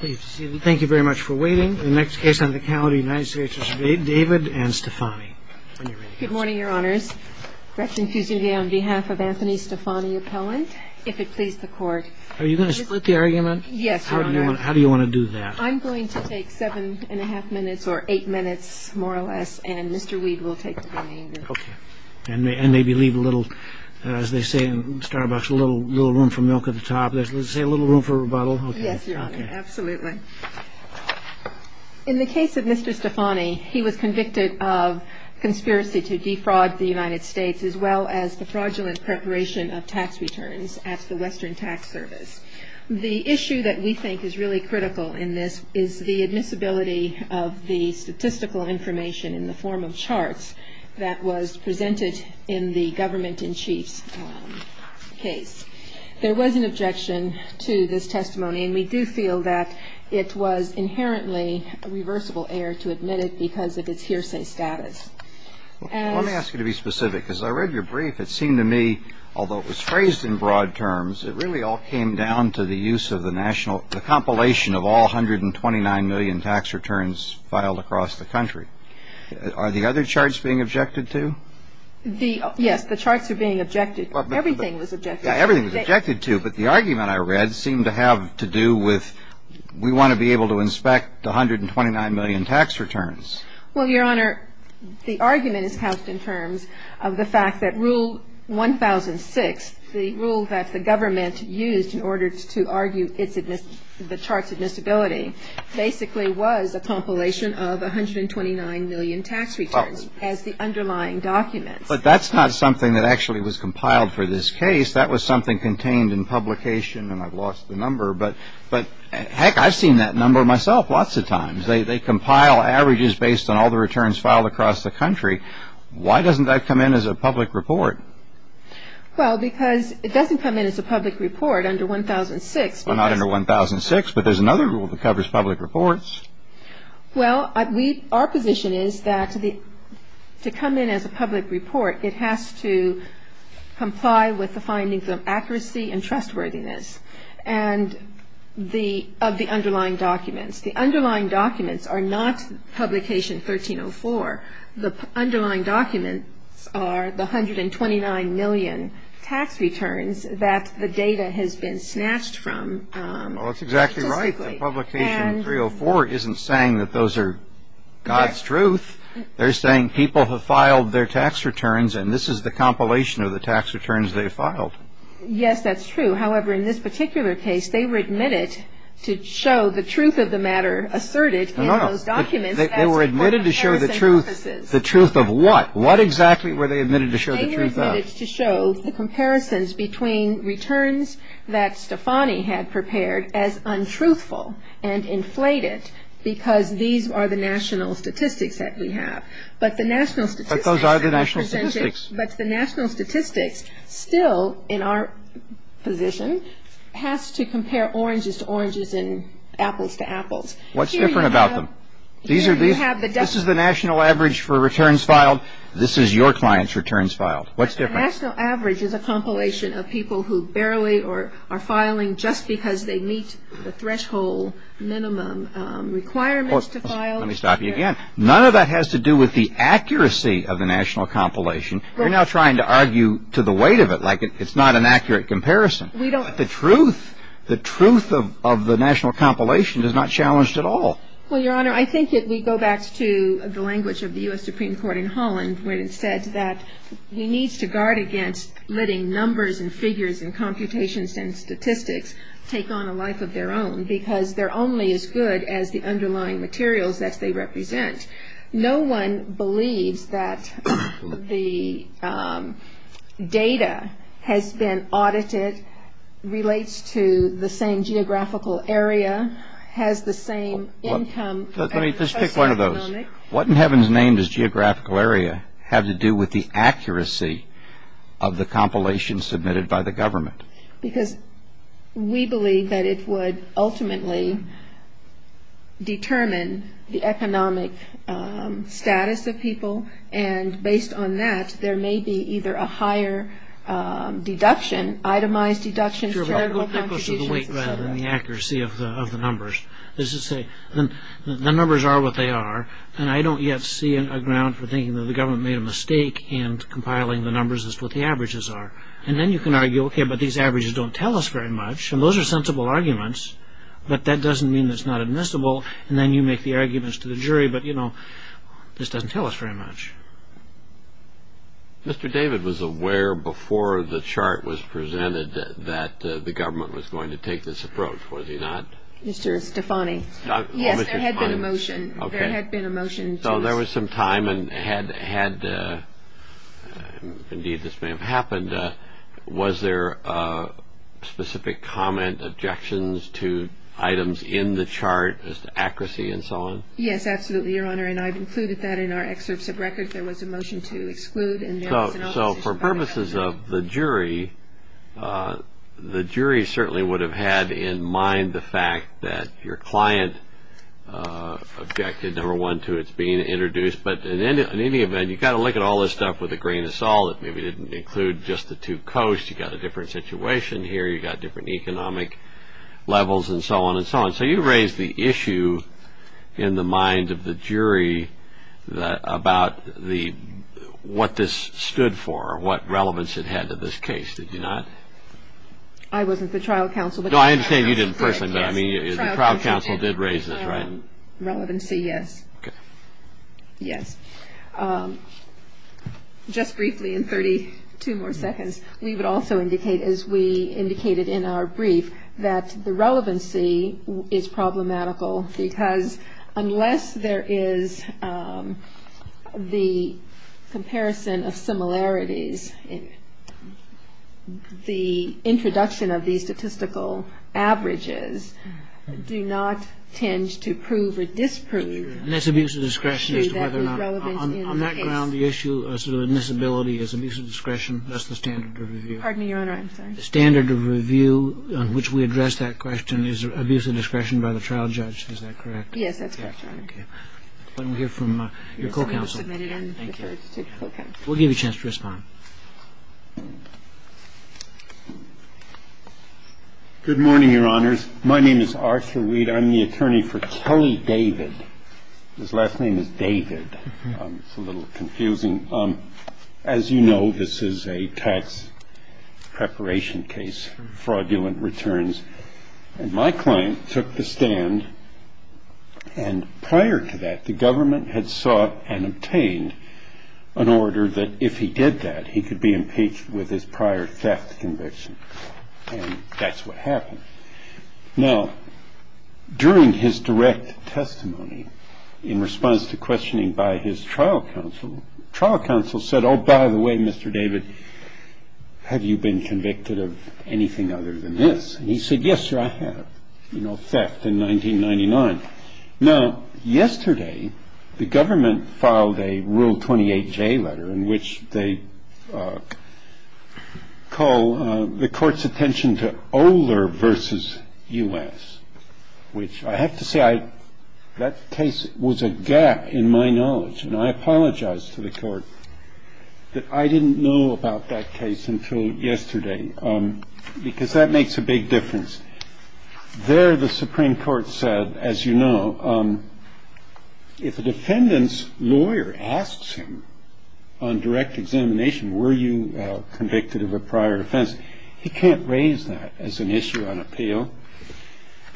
Thank you very much for waiting. The next case on the calendar is United States v. David and Stefani. Good morning, Your Honors. Gretchen Fusini on behalf of Anthony Stefani Appellant. If it please the Court. Are you going to split the argument? Yes, Your Honor. How do you want to do that? I'm going to take seven and a half minutes or eight minutes more or less and Mr. Weed will take the remainder. And maybe leave a little, as they say in Starbucks, a little room for milk at the top. Let's say a little room for rebuttal. Yes, Your Honor. Absolutely. In the case of Mr. Stefani, he was convicted of conspiracy to defraud the United States as well as the fraudulent preparation of tax returns at the Western Tax Service. The issue that we think is really critical in this is the admissibility of the statistical information in the form of charts that was presented in the government-in-chief's case. There was an objection to this testimony. And we do feel that it was inherently a reversible error to admit it because of its hearsay status. Let me ask you to be specific. As I read your brief, it seemed to me, although it was phrased in broad terms, it really all came down to the use of the national, the compilation of all 129 million tax returns filed across the country. Are the other charts being objected to? Yes, the charts are being objected to. Everything was objected to. But the argument I read seemed to have to do with we want to be able to inspect the 129 million tax returns. Well, Your Honor, the argument is housed in terms of the fact that Rule 1006, the rule that the government used in order to argue the chart's admissibility, basically was a compilation of 129 million tax returns as the underlying documents. But that's not something that actually was compiled for this case. That was something contained in publication. And I've lost the number. But, heck, I've seen that number myself lots of times. They compile averages based on all the returns filed across the country. Why doesn't that come in as a public report? Well, because it doesn't come in as a public report under 1006. Well, not under 1006. But there's another rule that covers public reports. Well, our position is that to come in as a public report, it has to comply with the findings of accuracy and trustworthiness of the underlying documents. The underlying documents are not publication 1304. The underlying documents are the 129 million tax returns that the data has been snatched from. Well, that's exactly right. The publication 304 isn't saying that those are God's truth. They're saying people have filed their tax returns, and this is the compilation of the tax returns they've filed. Yes, that's true. However, in this particular case, they were admitted to show the truth of the matter asserted in those documents. They were admitted to show the truth. The truth of what? What exactly were they admitted to show the truth of? They were admitted to show the comparisons between returns that Stefani had prepared as untruthful and inflated because these are the national statistics that we have. But the national statistics... But those are the national statistics. But the national statistics still, in our position, has to compare oranges to oranges and apples to apples. What's different about them? Here you have... This is the national average for returns filed. This is your client's returns filed. What's different? The national average is a compilation of people who barely are filing just because they meet the threshold minimum requirements to file. Let me stop you again. None of that has to do with the accuracy of the national compilation. You're now trying to argue to the weight of it like it's not an accurate comparison. We don't... But the truth, the truth of the national compilation is not challenged at all. Well, Your Honor, I think if we go back to the language of the U.S. Supreme Court in Holland when it said that he needs to guard against letting numbers and figures and computations and statistics take on a life of their own because they're only as good as the underlying materials that they represent. No one believes that the data has been audited, relates to the same geographical area, has the same income... What in heaven's name does geographical area have to do with the accuracy of the compilation submitted by the government? Because we believe that it would ultimately determine the economic status of people. And based on that, there may be either a higher deduction, itemized deductions, charitable contributions... than the accuracy of the numbers. The numbers are what they are. And I don't yet see a ground for thinking that the government made a mistake in compiling the numbers as to what the averages are. And then you can argue, OK, but these averages don't tell us very much. And those are sensible arguments. But that doesn't mean it's not admissible. And then you make the arguments to the jury, but, you know, this doesn't tell us very much. Mr. David was aware before the chart was presented that the government was going to take this approach, was he not? Mr. Stefani. Yes, there had been a motion. OK. There had been a motion to... So there was some time and had... Indeed, this may have happened. Was there specific comment, objections to items in the chart as to accuracy and so on? Yes, absolutely, Your Honor. And I've included that in our excerpts of records. There was a motion to exclude. So for purposes of the jury, the jury certainly would have had in mind the fact that your client objected, number one, to its being introduced. But in any event, you've got to look at all this stuff with a grain of salt. It maybe didn't include just the two coasts. You've got a different situation here. You've got different economic levels and so on and so on. So you raised the issue in the mind of the jury about what this stood for, what relevance it had to this case, did you not? I wasn't the trial counsel. No, I understand you didn't personally, but I mean the trial counsel did raise this, right? Relevancy, yes. OK. Yes. Just briefly, in 32 more seconds, we would also indicate, as we indicated in our brief, that the relevancy is problematical because unless there is the comparison of similarities, the introduction of these statistical averages do not tend to prove or disprove. And that's abuse of discretion as to whether or not. On that ground, the issue of sort of admissibility is abuse of discretion. That's the standard of review. Pardon me, Your Honor, I'm sorry. The standard of review on which we address that question is abuse of discretion by the trial judge. Is that correct? Yes, that's correct, Your Honor. OK. And we'll hear from your co-counsel. Thank you. We'll give you a chance to respond. Good morning, Your Honors. My name is Arthur Weed. I'm the attorney for Kelly David. His last name is David. It's a little confusing. As you know, this is a tax preparation case, fraudulent returns. And my client took the stand. And prior to that, the government had sought and obtained an order that if he did that, he could be impeached with his prior theft conviction. And that's what happened. Now, during his direct testimony, in response to questioning by his trial counsel, trial counsel said, oh, by the way, Mr. David, have you been convicted of anything other than this? And he said, yes, sir, I have. You know, theft in 1999. Now, yesterday, the government filed a Rule 28J letter in which they call the court's attention to Oler versus U.S., which I have to say, that case was a gap in my knowledge. And I apologize to the court that I didn't know about that case until yesterday, because that makes a big difference. There, the Supreme Court said, as you know, if a defendant's lawyer asks him on direct examination, were you convicted of a prior offense? He can't raise that as an issue on appeal.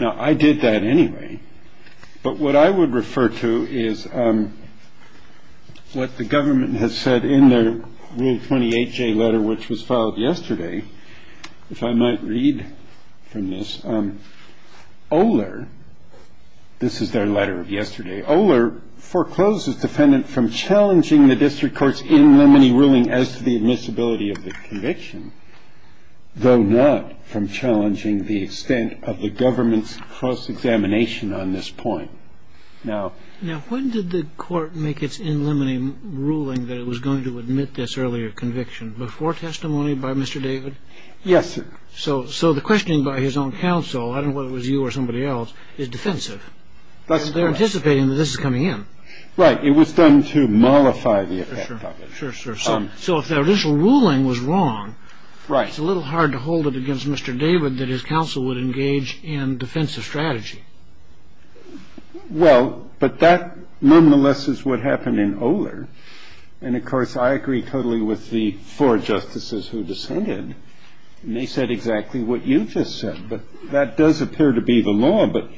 Now, I did that anyway. But what I would refer to is what the government has said in their Rule 28J letter, which was filed yesterday. If I might read from this, Oler, this is their letter of yesterday. Oler forecloses defendant from challenging the district court's in limine ruling as to the admissibility of the conviction, though not from challenging the extent of the government's cross-examination on this point. Now, when did the court make its in limine ruling that it was going to admit this earlier conviction? Before testimony by Mr. David? Yes, sir. So the questioning by his own counsel, I don't know whether it was you or somebody else, is defensive. They're anticipating that this is coming in. Right. It was done to mollify the effect of it. Sure, sure. So if their initial ruling was wrong, it's a little hard to hold it against Mr. David that his counsel would engage in defensive strategy. Well, but that nonetheless is what happened in Oler. And, of course, I agree totally with the four justices who dissented. And they said exactly what you just said. But that does appear to be the law. But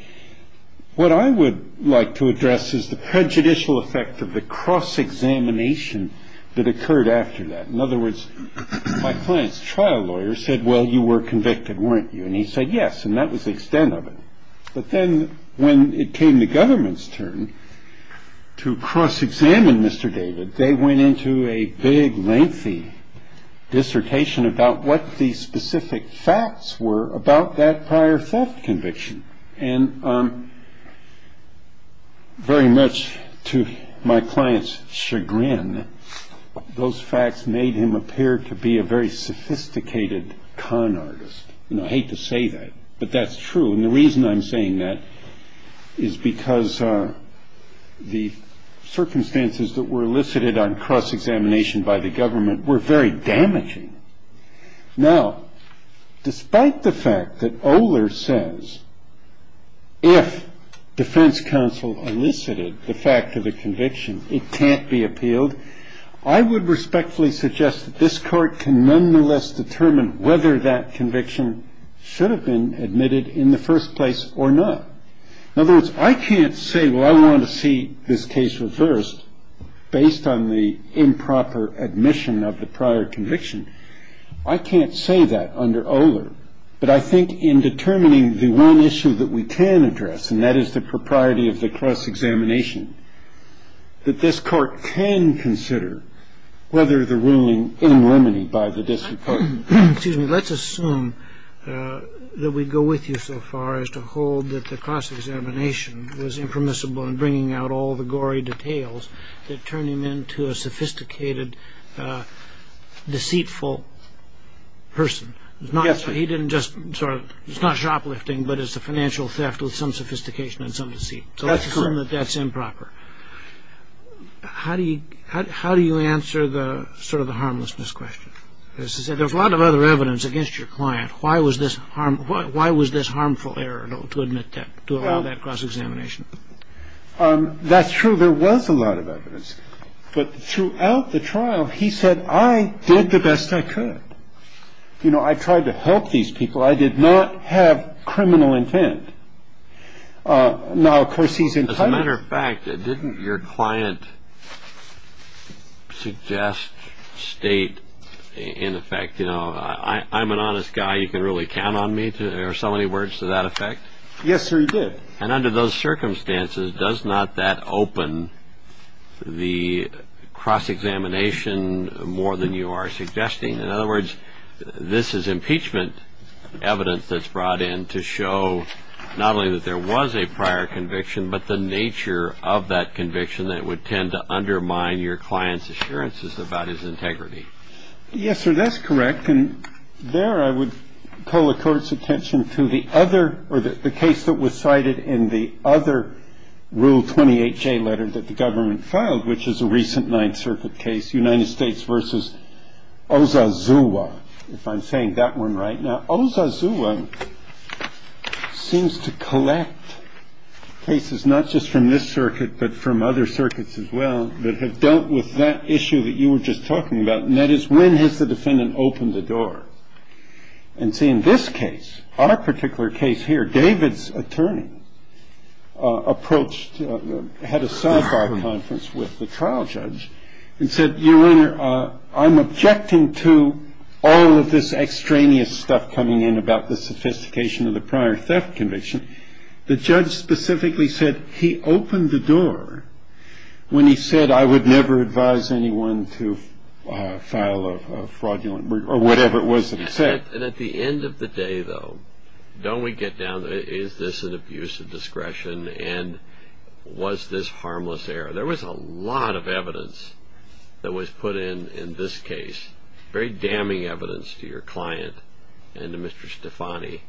what I would like to address is the prejudicial effect of the cross-examination that occurred after that. In other words, my client's trial lawyer said, well, you were convicted, weren't you? And he said, yes. And that was the extent of it. But then when it came to government's turn to cross-examine Mr. David, they went into a big, lengthy dissertation about what the specific facts were about that prior theft conviction. And very much to my client's chagrin, those facts made him appear to be a very sophisticated con artist. You know, I hate to say that, but that's true. And the reason I'm saying that is because the circumstances that were elicited on cross-examination by the government were very damaging. Now, despite the fact that Oler says if defense counsel elicited the fact of the conviction, it can't be appealed, I would respectfully suggest that this court can nonetheless determine whether that conviction should have been admitted in the first place or not. In other words, I can't say, well, I want to see this case reversed based on the improper admission of the prior conviction. I can't say that under Oler. But I think in determining the one issue that we can address, and that is the propriety of the cross-examination, that this court can consider whether the ruling in limine by the district court. Excuse me, let's assume that we go with you so far as to hold that the cross-examination was impermissible in bringing out all the gory details that turn him into a sophisticated, deceitful person. Yes, sir. It's not shoplifting, but it's a financial theft with some sophistication and some deceit. So let's assume that that's improper. How do you answer sort of the harmlessness question? There's a lot of other evidence against your client. Why was this harmful error to allow that cross-examination? That's true. There was a lot of evidence. But throughout the trial, he said, I did the best I could. You know, I tried to help these people. I did not have criminal intent. As a matter of fact, didn't your client suggest, state, in effect, you know, I'm an honest guy. You can really count on me. There are so many words to that effect. Yes, sir, he did. And under those circumstances, does not that open the cross-examination more than you are suggesting? In other words, this is impeachment evidence that's brought in to show not only that there was a prior conviction, but the nature of that conviction that would tend to undermine your client's assurances about his integrity. Yes, sir, that's correct. And there I would call the court's attention to the other or the case that was cited in the other Rule 28J letter that the government filed, which is a recent Ninth Circuit case, United States versus Ozazua. If I'm saying that one right now, Ozazua seems to collect cases not just from this circuit, but from other circuits as well that have dealt with that issue that you were just talking about. And that is, when has the defendant opened the door? And see, in this case, our particular case here, David's attorney approached, had a sidebar conference with the trial judge and said, Your Honor, I'm objecting to all of this extraneous stuff coming in about the sophistication of the prior theft conviction. The judge specifically said he opened the door when he said, I would never advise anyone to file a fraudulent or whatever it was that he said. And at the end of the day, though, don't we get down to is this an abuse of discretion and was this harmless error? There was a lot of evidence that was put in in this case, very damning evidence to your client and to Mr. Stefani.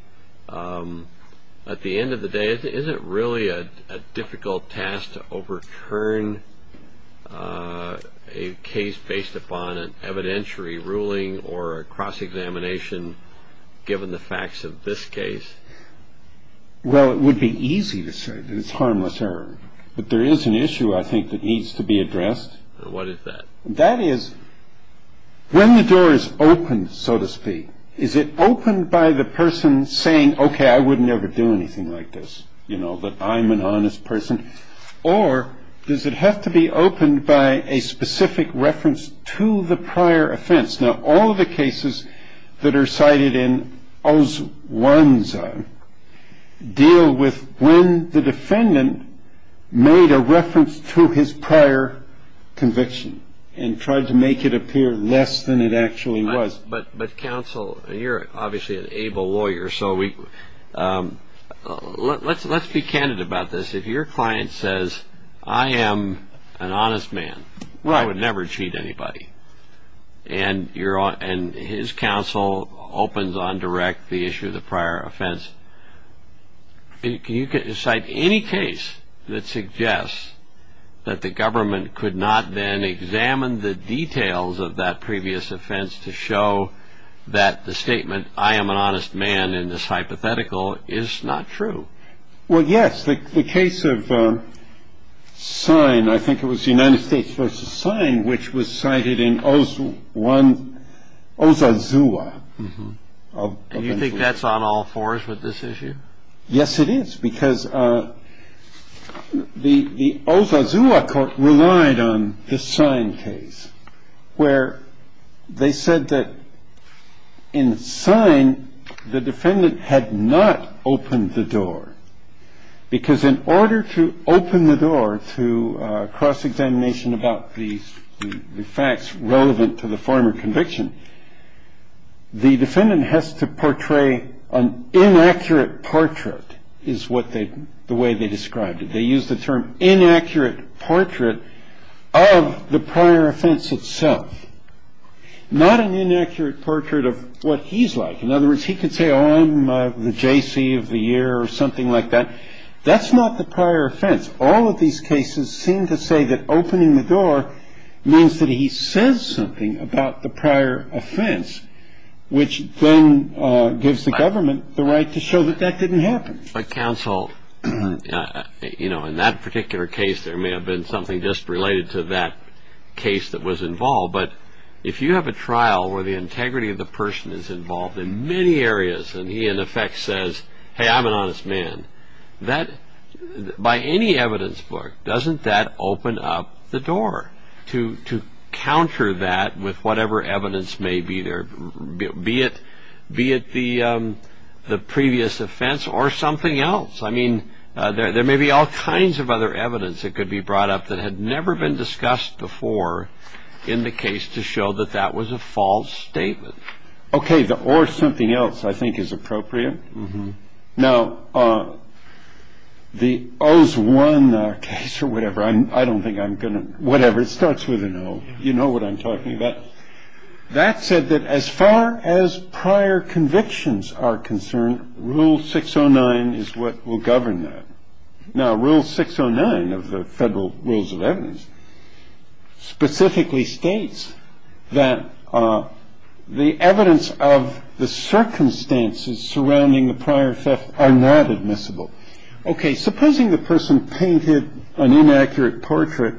At the end of the day, is it really a difficult task to overturn a case based upon an evidentiary ruling or a cross-examination given the facts of this case? Well, it would be easy to say that it's harmless error. But there is an issue, I think, that needs to be addressed. What is that? That is, when the door is open, so to speak, is it opened by the person saying, OK, I would never do anything like this, you know, that I'm an honest person? Or does it have to be opened by a specific reference to the prior offense? Now, all of the cases that are cited in those ones deal with when the defendant made a reference to his prior conviction and tried to make it appear less than it actually was. But counsel, you're obviously an able lawyer, so let's be candid about this. If your client says, I am an honest man, I would never cheat anybody. And his counsel opens on direct the issue of the prior offense. Can you cite any case that suggests that the government could not then examine the details of that previous offense to show that the statement, I am an honest man in this hypothetical, is not true? Well, yes. The case of Sine, I think it was the United States v. Sine, which was cited in Osazua. And you think that's on all fours with this issue? Yes, it is. Because the Osazua court relied on the Sine case, where they said that in Sine, the defendant had not opened the door. Because in order to open the door to cross-examination about the facts relevant to the former conviction, the defendant has to portray an inaccurate portrait, is the way they described it. They used the term inaccurate portrait of the prior offense itself. Not an inaccurate portrait of what he's like. In other words, he could say, oh, I'm the J.C. of the year or something like that. That's not the prior offense. All of these cases seem to say that opening the door means that he says something about the prior offense, which then gives the government the right to show that that didn't happen. But counsel, in that particular case, there may have been something just related to that case that was involved. But if you have a trial where the integrity of the person is involved in many areas, and he, in effect, says, hey, I'm an honest man, by any evidence book, doesn't that open up the door to counter that with whatever evidence may be there, be it the previous offense or something else? I mean, there may be all kinds of other evidence that could be brought up that had never been discussed before in the case to show that that was a false statement. OK, the or something else, I think, is appropriate. Now, the O's 1 case or whatever, I don't think I'm going to, whatever, it starts with an O. You know what I'm talking about. That said, that as far as prior convictions are concerned, Rule 609 is what will govern that. Now, Rule 609 of the Federal Rules of Evidence specifically states that the evidence of the circumstances surrounding the prior theft are not admissible. OK, supposing the person painted an inaccurate portrait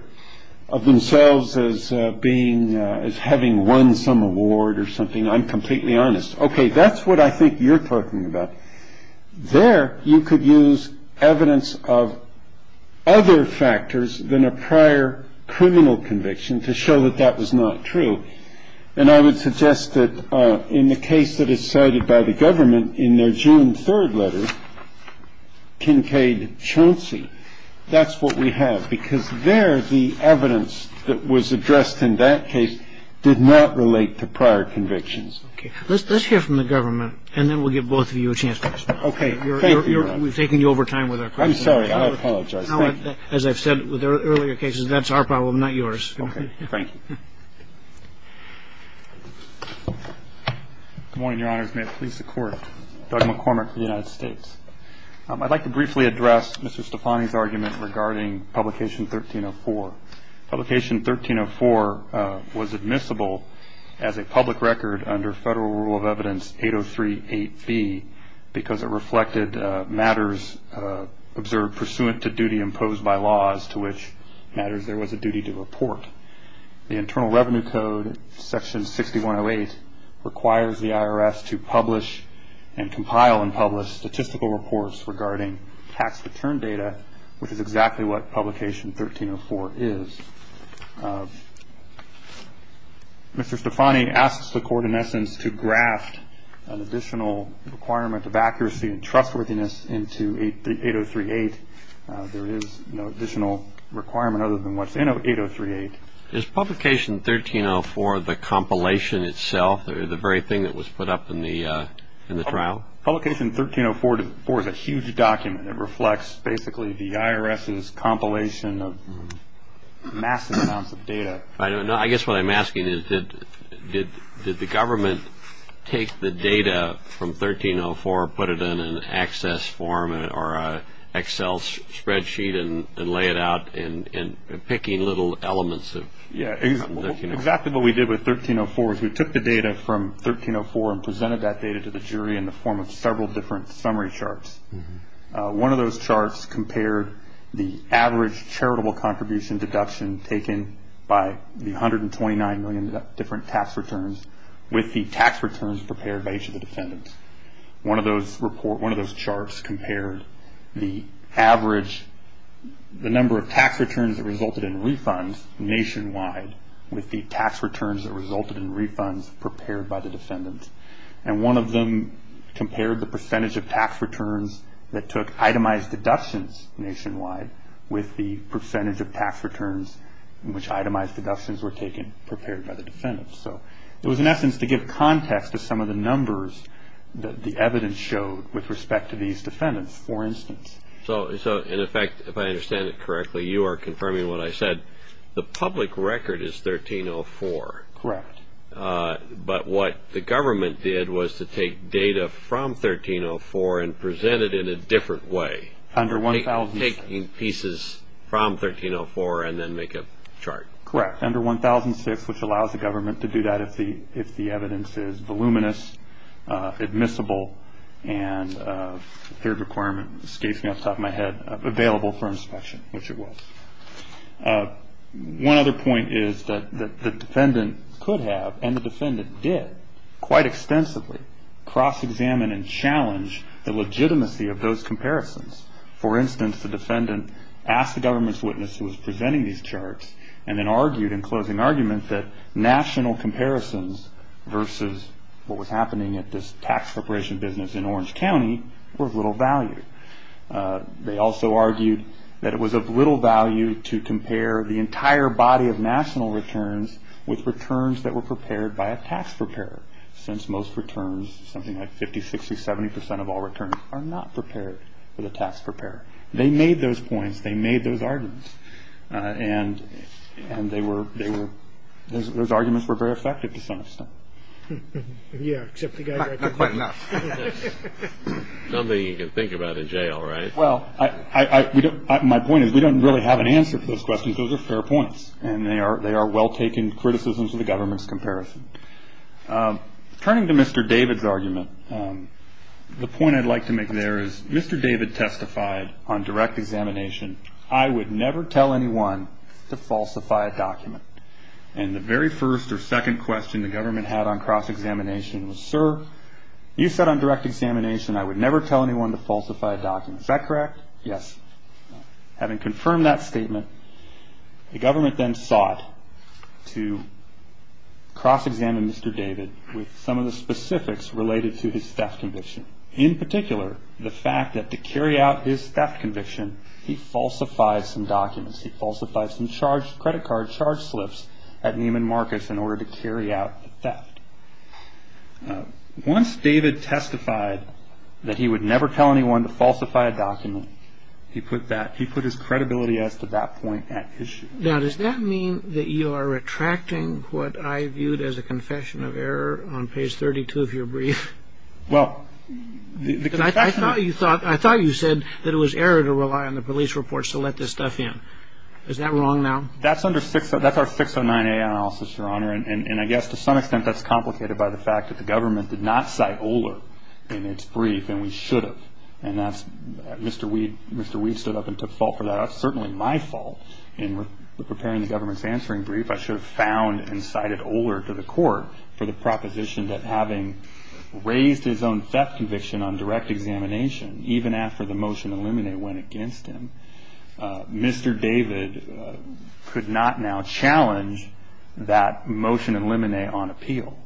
of themselves as being as having won some award or something. I'm completely honest. OK, that's what I think you're talking about there. You could use evidence of other factors than a prior criminal conviction to show that that was not true. And I would suggest that in the case that is cited by the government in their June 3rd letter, Kincade-Chauncey, that's what we have because there the evidence that was addressed in that case did not relate to prior convictions. Let's hear from the government and then we'll give both of you a chance. OK. We've taken you over time with our questions. I'm sorry. I apologize. As I've said with earlier cases, that's our problem, not yours. OK, thank you. Good morning, Your Honors. May it please the Court. Doug McCormick, United States. I'd like to briefly address Mr. Stefani's argument regarding Publication 1304. Publication 1304 was admissible as a public record under Federal Rule of Evidence 8038B because it reflected matters observed pursuant to duty imposed by law as to which matters there was a duty to report. The Internal Revenue Code, Section 6108, requires the IRS to publish and compile and publish statistical reports regarding tax return data, which is exactly what Publication 1304 is. Mr. Stefani asks the Court in essence to graft an additional requirement of accuracy and trustworthiness into 8038. There is no additional requirement other than what's in 8038. Is Publication 1304 the compilation itself or the very thing that was put up in the trial? Publication 1304 is a huge document. It reflects basically the IRS's compilation of massive amounts of data. I guess what I'm asking is did the government take the data from 1304, put it in an access form or an Excel spreadsheet, and lay it out in picking little elements of 1304? Exactly what we did with 1304 is we took the data from 1304 and presented that data to the jury in the form of several different summary charts. One of those charts compared the average charitable contribution deduction taken by the 129 million different tax returns with the tax returns prepared by each of the defendants. One of those charts compared the number of tax returns that resulted in refunds nationwide with the tax returns that resulted in refunds prepared by the defendants. And one of them compared the percentage of tax returns that took itemized deductions nationwide with the percentage of tax returns in which itemized deductions were taken prepared by the defendants. So it was in essence to give context to some of the numbers that the evidence showed with respect to these defendants, for instance. So in effect, if I understand it correctly, you are confirming what I said. The public record is 1304. Correct. But what the government did was to take data from 1304 and present it in a different way. Under 1006. Taking pieces from 1304 and then make a chart. Correct. Under 1006, which allows the government to do that if the evidence is voluminous, admissible, and the requirement escapes me off the top of my head, available for inspection, which it was. One other point is that the defendant could have and the defendant did quite extensively cross-examine and challenge the legitimacy of those comparisons. For instance, the defendant asked the government's witness who was presenting these charts and then argued in closing argument that national comparisons versus what was happening at this tax preparation business in Orange County were of little value. They also argued that it was of little value to compare the entire body of national returns with returns that were prepared by a tax preparer, since most returns, something like 50, 60, 70 percent of all returns, are not prepared for the tax preparer. They made those points. They made those arguments. And those arguments were very effective to some extent. Yeah, except the guy dragged them. Quite enough. Something you can think about in jail, right? Well, my point is we don't really have an answer to those questions. Those are fair points, and they are well-taken criticisms of the government's comparison. Turning to Mr. David's argument, the point I'd like to make there is Mr. David testified on direct examination, I would never tell anyone to falsify a document. And the very first or second question the government had on cross-examination was, Sir, you said on direct examination I would never tell anyone to falsify a document. Is that correct? Yes. Having confirmed that statement, the government then sought to cross-examine Mr. David with some of the specifics related to his theft conviction. In particular, the fact that to carry out his theft conviction, he falsified some documents. He falsified some credit card charge slips at Neiman Marcus in order to carry out the theft. Once David testified that he would never tell anyone to falsify a document, he put his credibility as to that point at issue. Now, does that mean that you are retracting what I viewed as a confession of error on page 32, if you're brief? I thought you said that it was error to rely on the police reports to let this stuff in. Is that wrong now? That's our 609A analysis, Your Honor. And I guess to some extent that's complicated by the fact that the government did not cite Oler in its brief, and we should have. And Mr. Weed stood up and took fault for that. That's certainly my fault in preparing the government's answering brief. I should have found and cited Oler to the court for the proposition that having raised his own theft conviction on direct examination, even after the motion in limine went against him, Mr. David could not now challenge that motion in limine on appeal.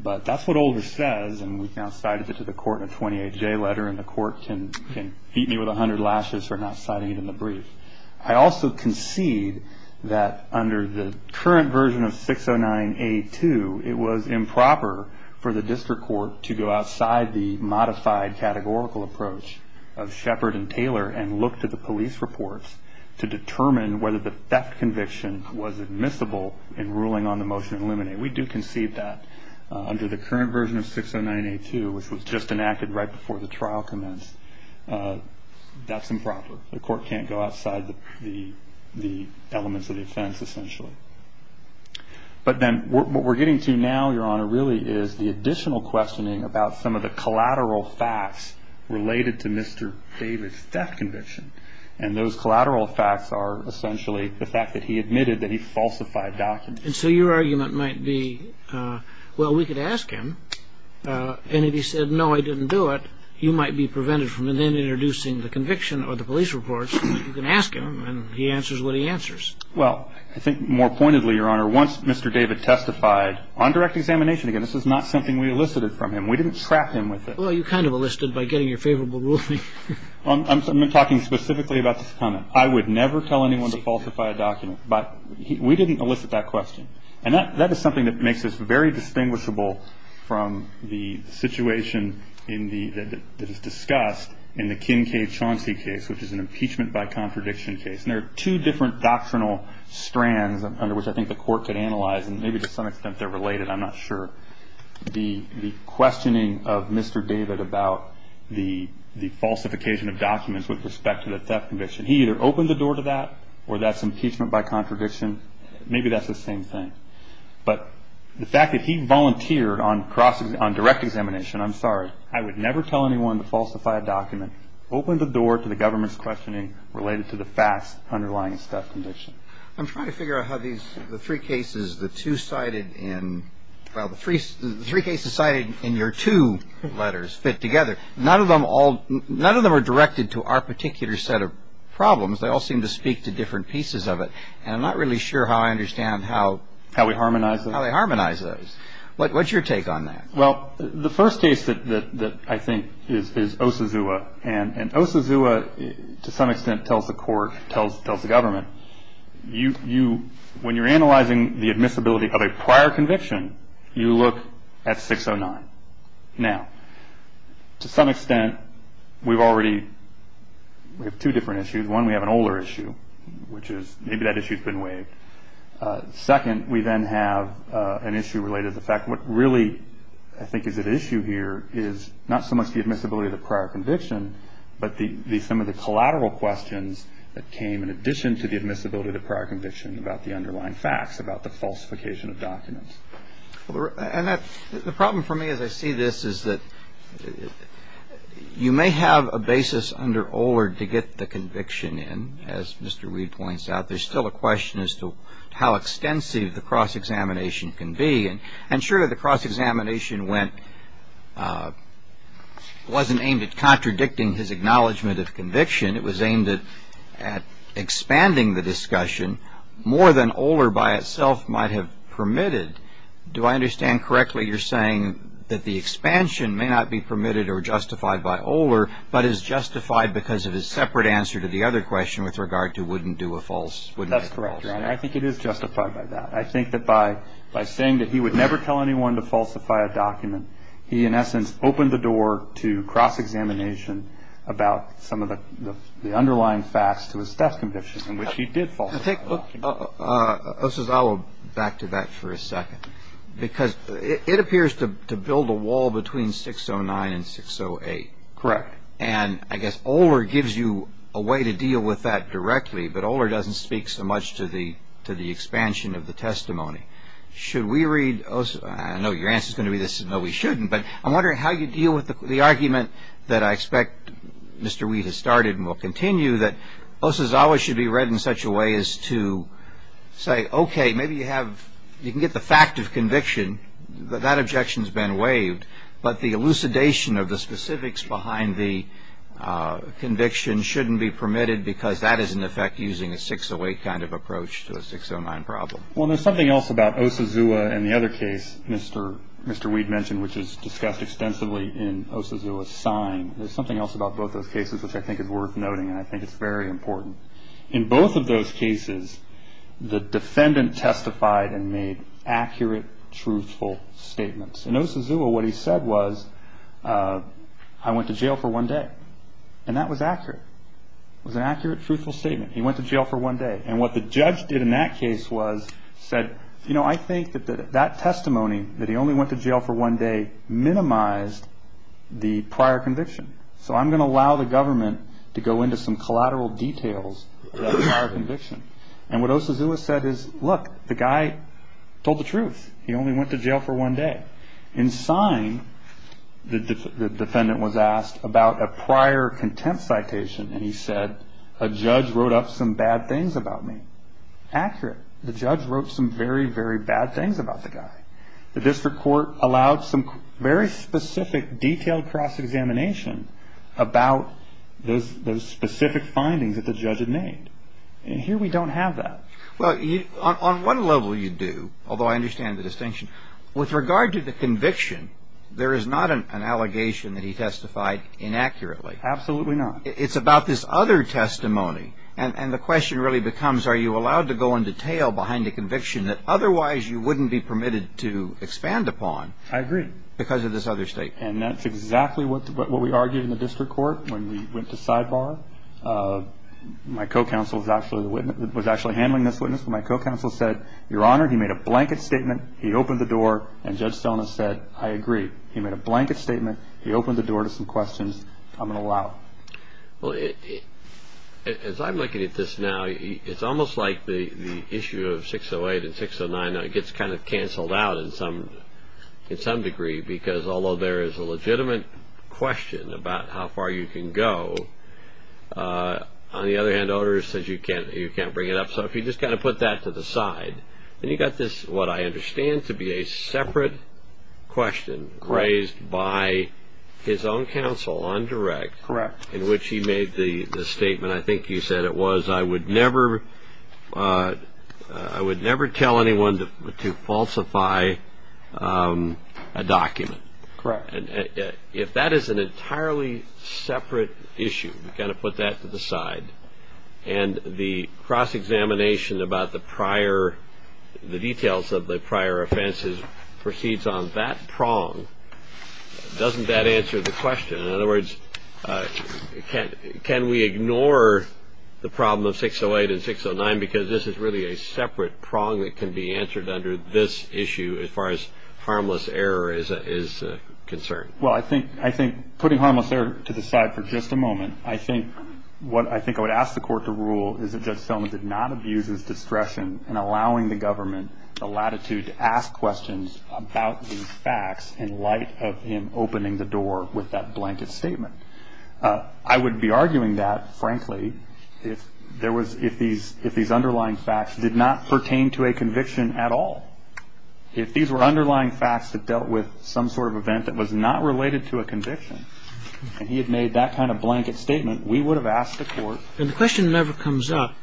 But that's what Oler says, and we've now cited it to the court in a 28-day letter, and the court can beat me with 100 lashes for not citing it in the brief. I also concede that under the current version of 609A2, it was improper for the district court to go outside the modified categorical approach of Shepard and Taylor and look to the police reports to determine whether the theft conviction was admissible in ruling on the motion in limine. We do concede that. Under the current version of 609A2, which was just enacted right before the trial commenced, that's improper. The court can't go outside the elements of the offense, essentially. But then what we're getting to now, Your Honor, really is the additional questioning about some of the collateral facts related to Mr. David's theft conviction, and those collateral facts are essentially the fact that he admitted that he falsified documents. And so your argument might be, well, we could ask him, and if he said, no, I didn't do it, you might be prevented from then introducing the conviction or the police reports. You can ask him, and he answers what he answers. Well, I think more pointedly, Your Honor, once Mr. David testified on direct examination, again, this is not something we elicited from him. We didn't trap him with it. Well, you kind of elicited by getting your favorable ruling. I'm talking specifically about this comment. I would never tell anyone to falsify a document, but we didn't elicit that question. And that is something that makes us very distinguishable from the situation that is discussed in the Kincaid-Chauncey case, which is an impeachment by contradiction case. And there are two different doctrinal strands under which I think the court could analyze, and maybe to some extent they're related, I'm not sure, the questioning of Mr. David about the falsification of documents with respect to the theft conviction. He either opened the door to that, or that's impeachment by contradiction. Maybe that's the same thing. But the fact that he volunteered on direct examination, I'm sorry, I would never tell anyone to falsify a document, open the door to the government's questioning related to the fast underlying theft conviction. I'm trying to figure out how the three cases cited in your two letters fit together. None of them are directed to our particular set of problems. They all seem to speak to different pieces of it. And I'm not really sure how I understand how they harmonize those. What's your take on that? Well, the first case that I think is Osazua. And Osazua, to some extent, tells the court, tells the government, when you're analyzing the admissibility of a prior conviction, you look at 609. Now, to some extent, we have two different issues. One, we have an older issue, which is maybe that issue's been waived. Second, we then have an issue related to the fact what really, I think, is at issue here is not so much the admissibility of the prior conviction, but some of the collateral questions that came in addition to the admissibility of the prior conviction about the underlying facts, about the falsification of documents. And the problem for me as I see this is that you may have a basis under Oler to get the conviction in. As Mr. Reed points out, there's still a question as to how extensive the cross-examination can be. And surely the cross-examination wasn't aimed at contradicting his acknowledgement of conviction. It was aimed at expanding the discussion more than Oler by itself might have permitted. Do I understand correctly you're saying that the expansion may not be permitted or justified by Oler, but is justified because of his separate answer to the other question with regard to wouldn't do a false? That's correct, Your Honor. I think it is justified by that. I think that by saying that he would never tell anyone to falsify a document, he in essence opened the door to cross-examination about some of the underlying facts to his death conviction, in which he did falsify a document. Osazawa, back to that for a second. Because it appears to build a wall between 609 and 608. Correct. And I guess Oler gives you a way to deal with that directly, but Oler doesn't speak so much to the expansion of the testimony. Should we read, I know your answer is going to be no, we shouldn't, but I'm wondering how you deal with the argument that I expect Mr. Wheat has started and will continue, that Osazawa should be read in such a way as to say, okay, maybe you have, you can get the fact of conviction, that objection's been waived, but the elucidation of the specifics behind the conviction shouldn't be permitted because that is in effect using a 608 kind of approach to the 609 problem. Well, there's something else about Osazawa and the other case Mr. Wheat mentioned, which is discussed extensively in Osazawa's sign. There's something else about both those cases which I think is worth noting, and I think it's very important. In both of those cases, the defendant testified and made accurate, truthful statements. In Osazawa, what he said was, I went to jail for one day. And that was accurate. It was an accurate, truthful statement. He went to jail for one day. And what the judge did in that case was said, you know, I think that that testimony, that he only went to jail for one day, minimized the prior conviction. So I'm going to allow the government to go into some collateral details of that prior conviction. And what Osazawa said is, look, the guy told the truth. He only went to jail for one day. In sign, the defendant was asked about a prior contempt citation, and he said a judge wrote up some bad things about me. Accurate. The judge wrote some very, very bad things about the guy. The district court allowed some very specific, detailed cross-examination about the specific findings that the judge had made. And here we don't have that. Well, on one level you do, although I understand the distinction. With regard to the conviction, there is not an allegation that he testified inaccurately. Absolutely not. It's about this other testimony. And the question really becomes, are you allowed to go into detail behind a conviction that otherwise you wouldn't be permitted to expand upon? I agree. Because of this other statement. And that's exactly what we argued in the district court when we went to sidebar. My co-counsel was actually handling this witness. My co-counsel said, Your Honor, he made a blanket statement. He opened the door, and Judge Sona said, I agree. He made a blanket statement. He opened the door to some questions. I'm going to allow it. Well, as I'm looking at this now, it's almost like the issue of 608 and 609 gets kind of canceled out in some degree. Because although there is a legitimate question about how far you can go, on the other hand, the order says you can't bring it up. So if you just kind of put that to the side, then you've got this, what I understand to be a separate question raised by his own counsel on direct. Correct. In which he made the statement, I think you said it was, I would never tell anyone to falsify a document. Correct. If that is an entirely separate issue, you've got to put that to the side. And the cross-examination about the prior, the details of the prior offenses proceeds on that prong. Doesn't that answer the question? In other words, can we ignore the problem of 608 and 609? Because this is really a separate prong that can be answered under this issue as far as harmless error is concerned. Well, I think putting harmless error to the side for just a moment, I think what I think I would ask the court to rule is that Judge Thelma did not abuse his discretion in allowing the government the latitude to ask questions about these facts in light of him opening the door with that blanket statement. I would be arguing that, frankly, if these underlying facts did not pertain to a conviction at all. If these were underlying facts that dealt with some sort of event that was not related to a conviction, and he had made that kind of blanket statement, we would have asked the court. And the question never comes up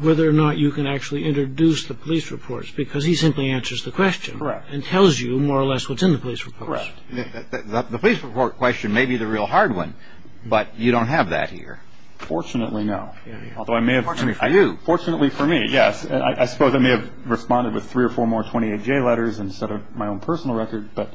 whether or not you can actually introduce the police reports, because he simply answers the question. Correct. And tells you more or less what's in the police reports. Correct. The police report question may be the real hard one, but you don't have that here. Fortunately, no. Although I may have. Fortunately for you. Fortunately for me, yes. I suppose I may have responded with three or four more 28J letters instead of my own personal record. But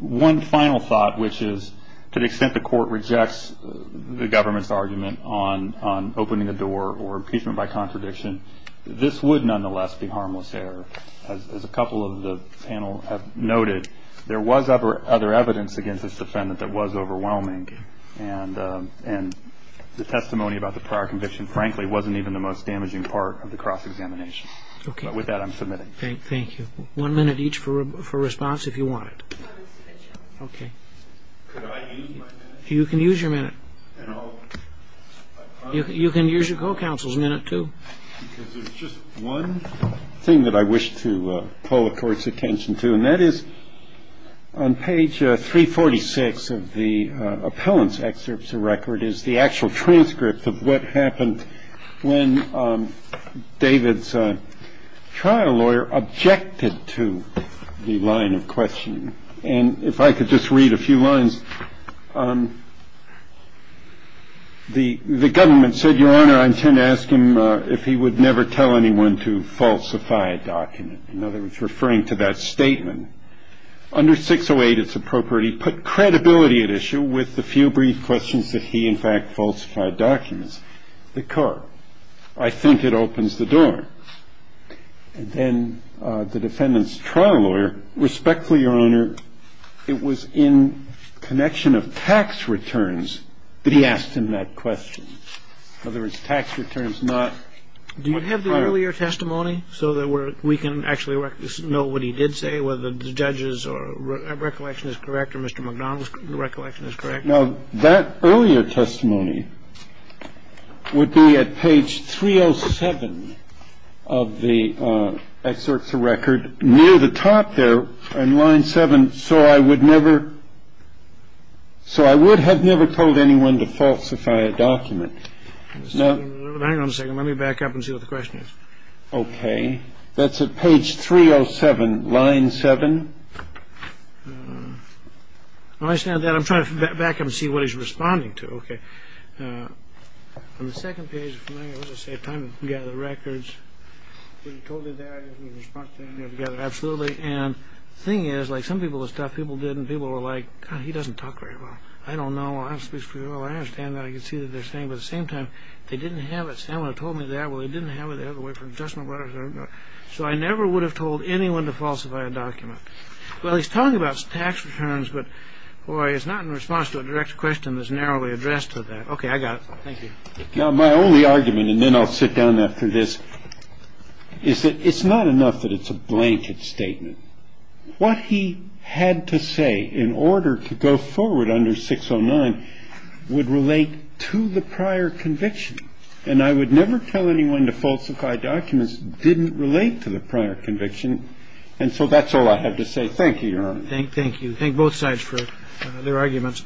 one final thought, which is to the extent the court rejects the government's argument on opening the door or impeachment by contradiction, this would nonetheless be harmless error. As a couple of the panel have noted, there was other evidence against this defendant that was overwhelming. And the testimony about the prior conviction, frankly, wasn't even the most damaging part of the cross-examination. But with that, I'm submitting. Thank you. One minute each for response, if you want it. Okay. Could I use my minute? You can use your minute. You can use your co-counsel's minute, too. Because there's just one thing that I wish to pull the court's attention to, and that is on page 346 of the appellant's excerpts of record is the actual transcript of what happened when David's trial lawyer objected to the line of questioning. And if I could just read a few lines. The government said, Your Honor, I intend to ask him if he would never tell anyone to falsify a document. In other words, referring to that statement. Under 608, it's appropriate he put credibility at issue with the few brief questions that he, in fact, falsified documents. The court, I think it opens the door. And then the defendant's trial lawyer, respectfully, Your Honor, it was in connection of tax returns that he asked him that question. In other words, tax returns, not what happened. Do you have the earlier testimony so that we can actually know what he did say, whether the judge's recollection is correct or Mr. McDonald's recollection is correct? Now, that earlier testimony would be at page 307 of the excerpts of record near the top there in line 7. So I would never. So I would have never told anyone to falsify a document. Hang on a second. Let me back up and see what the question is. OK. That's at page 307, line 7. I understand that. I'm trying to back up and see what he's responding to. OK. On the second page, if I may, it was a time to gather records. Was he told to do that? Did he respond to that? Absolutely. And the thing is, like some people, the stuff people did, and people were like, he doesn't talk very well. I don't know. I don't speak for you. I understand that. I can see that they're saying. But at the same time, they didn't have it. Sam would have told me that. They had to wait for an adjustment letter. So I never would have told anyone to falsify a document. Well, he's talking about tax returns. But boy, it's not in response to a direct question that's narrowly addressed to that. OK, I got it. Thank you. Now, my only argument, and then I'll sit down after this, is that it's not enough that it's a blanket statement. What he had to say in order to go forward under 609 would relate to the prior conviction. And I would never tell anyone to falsify documents that didn't relate to the prior conviction. And so that's all I have to say. Thank you. Thank you. Thank both sides for their arguments.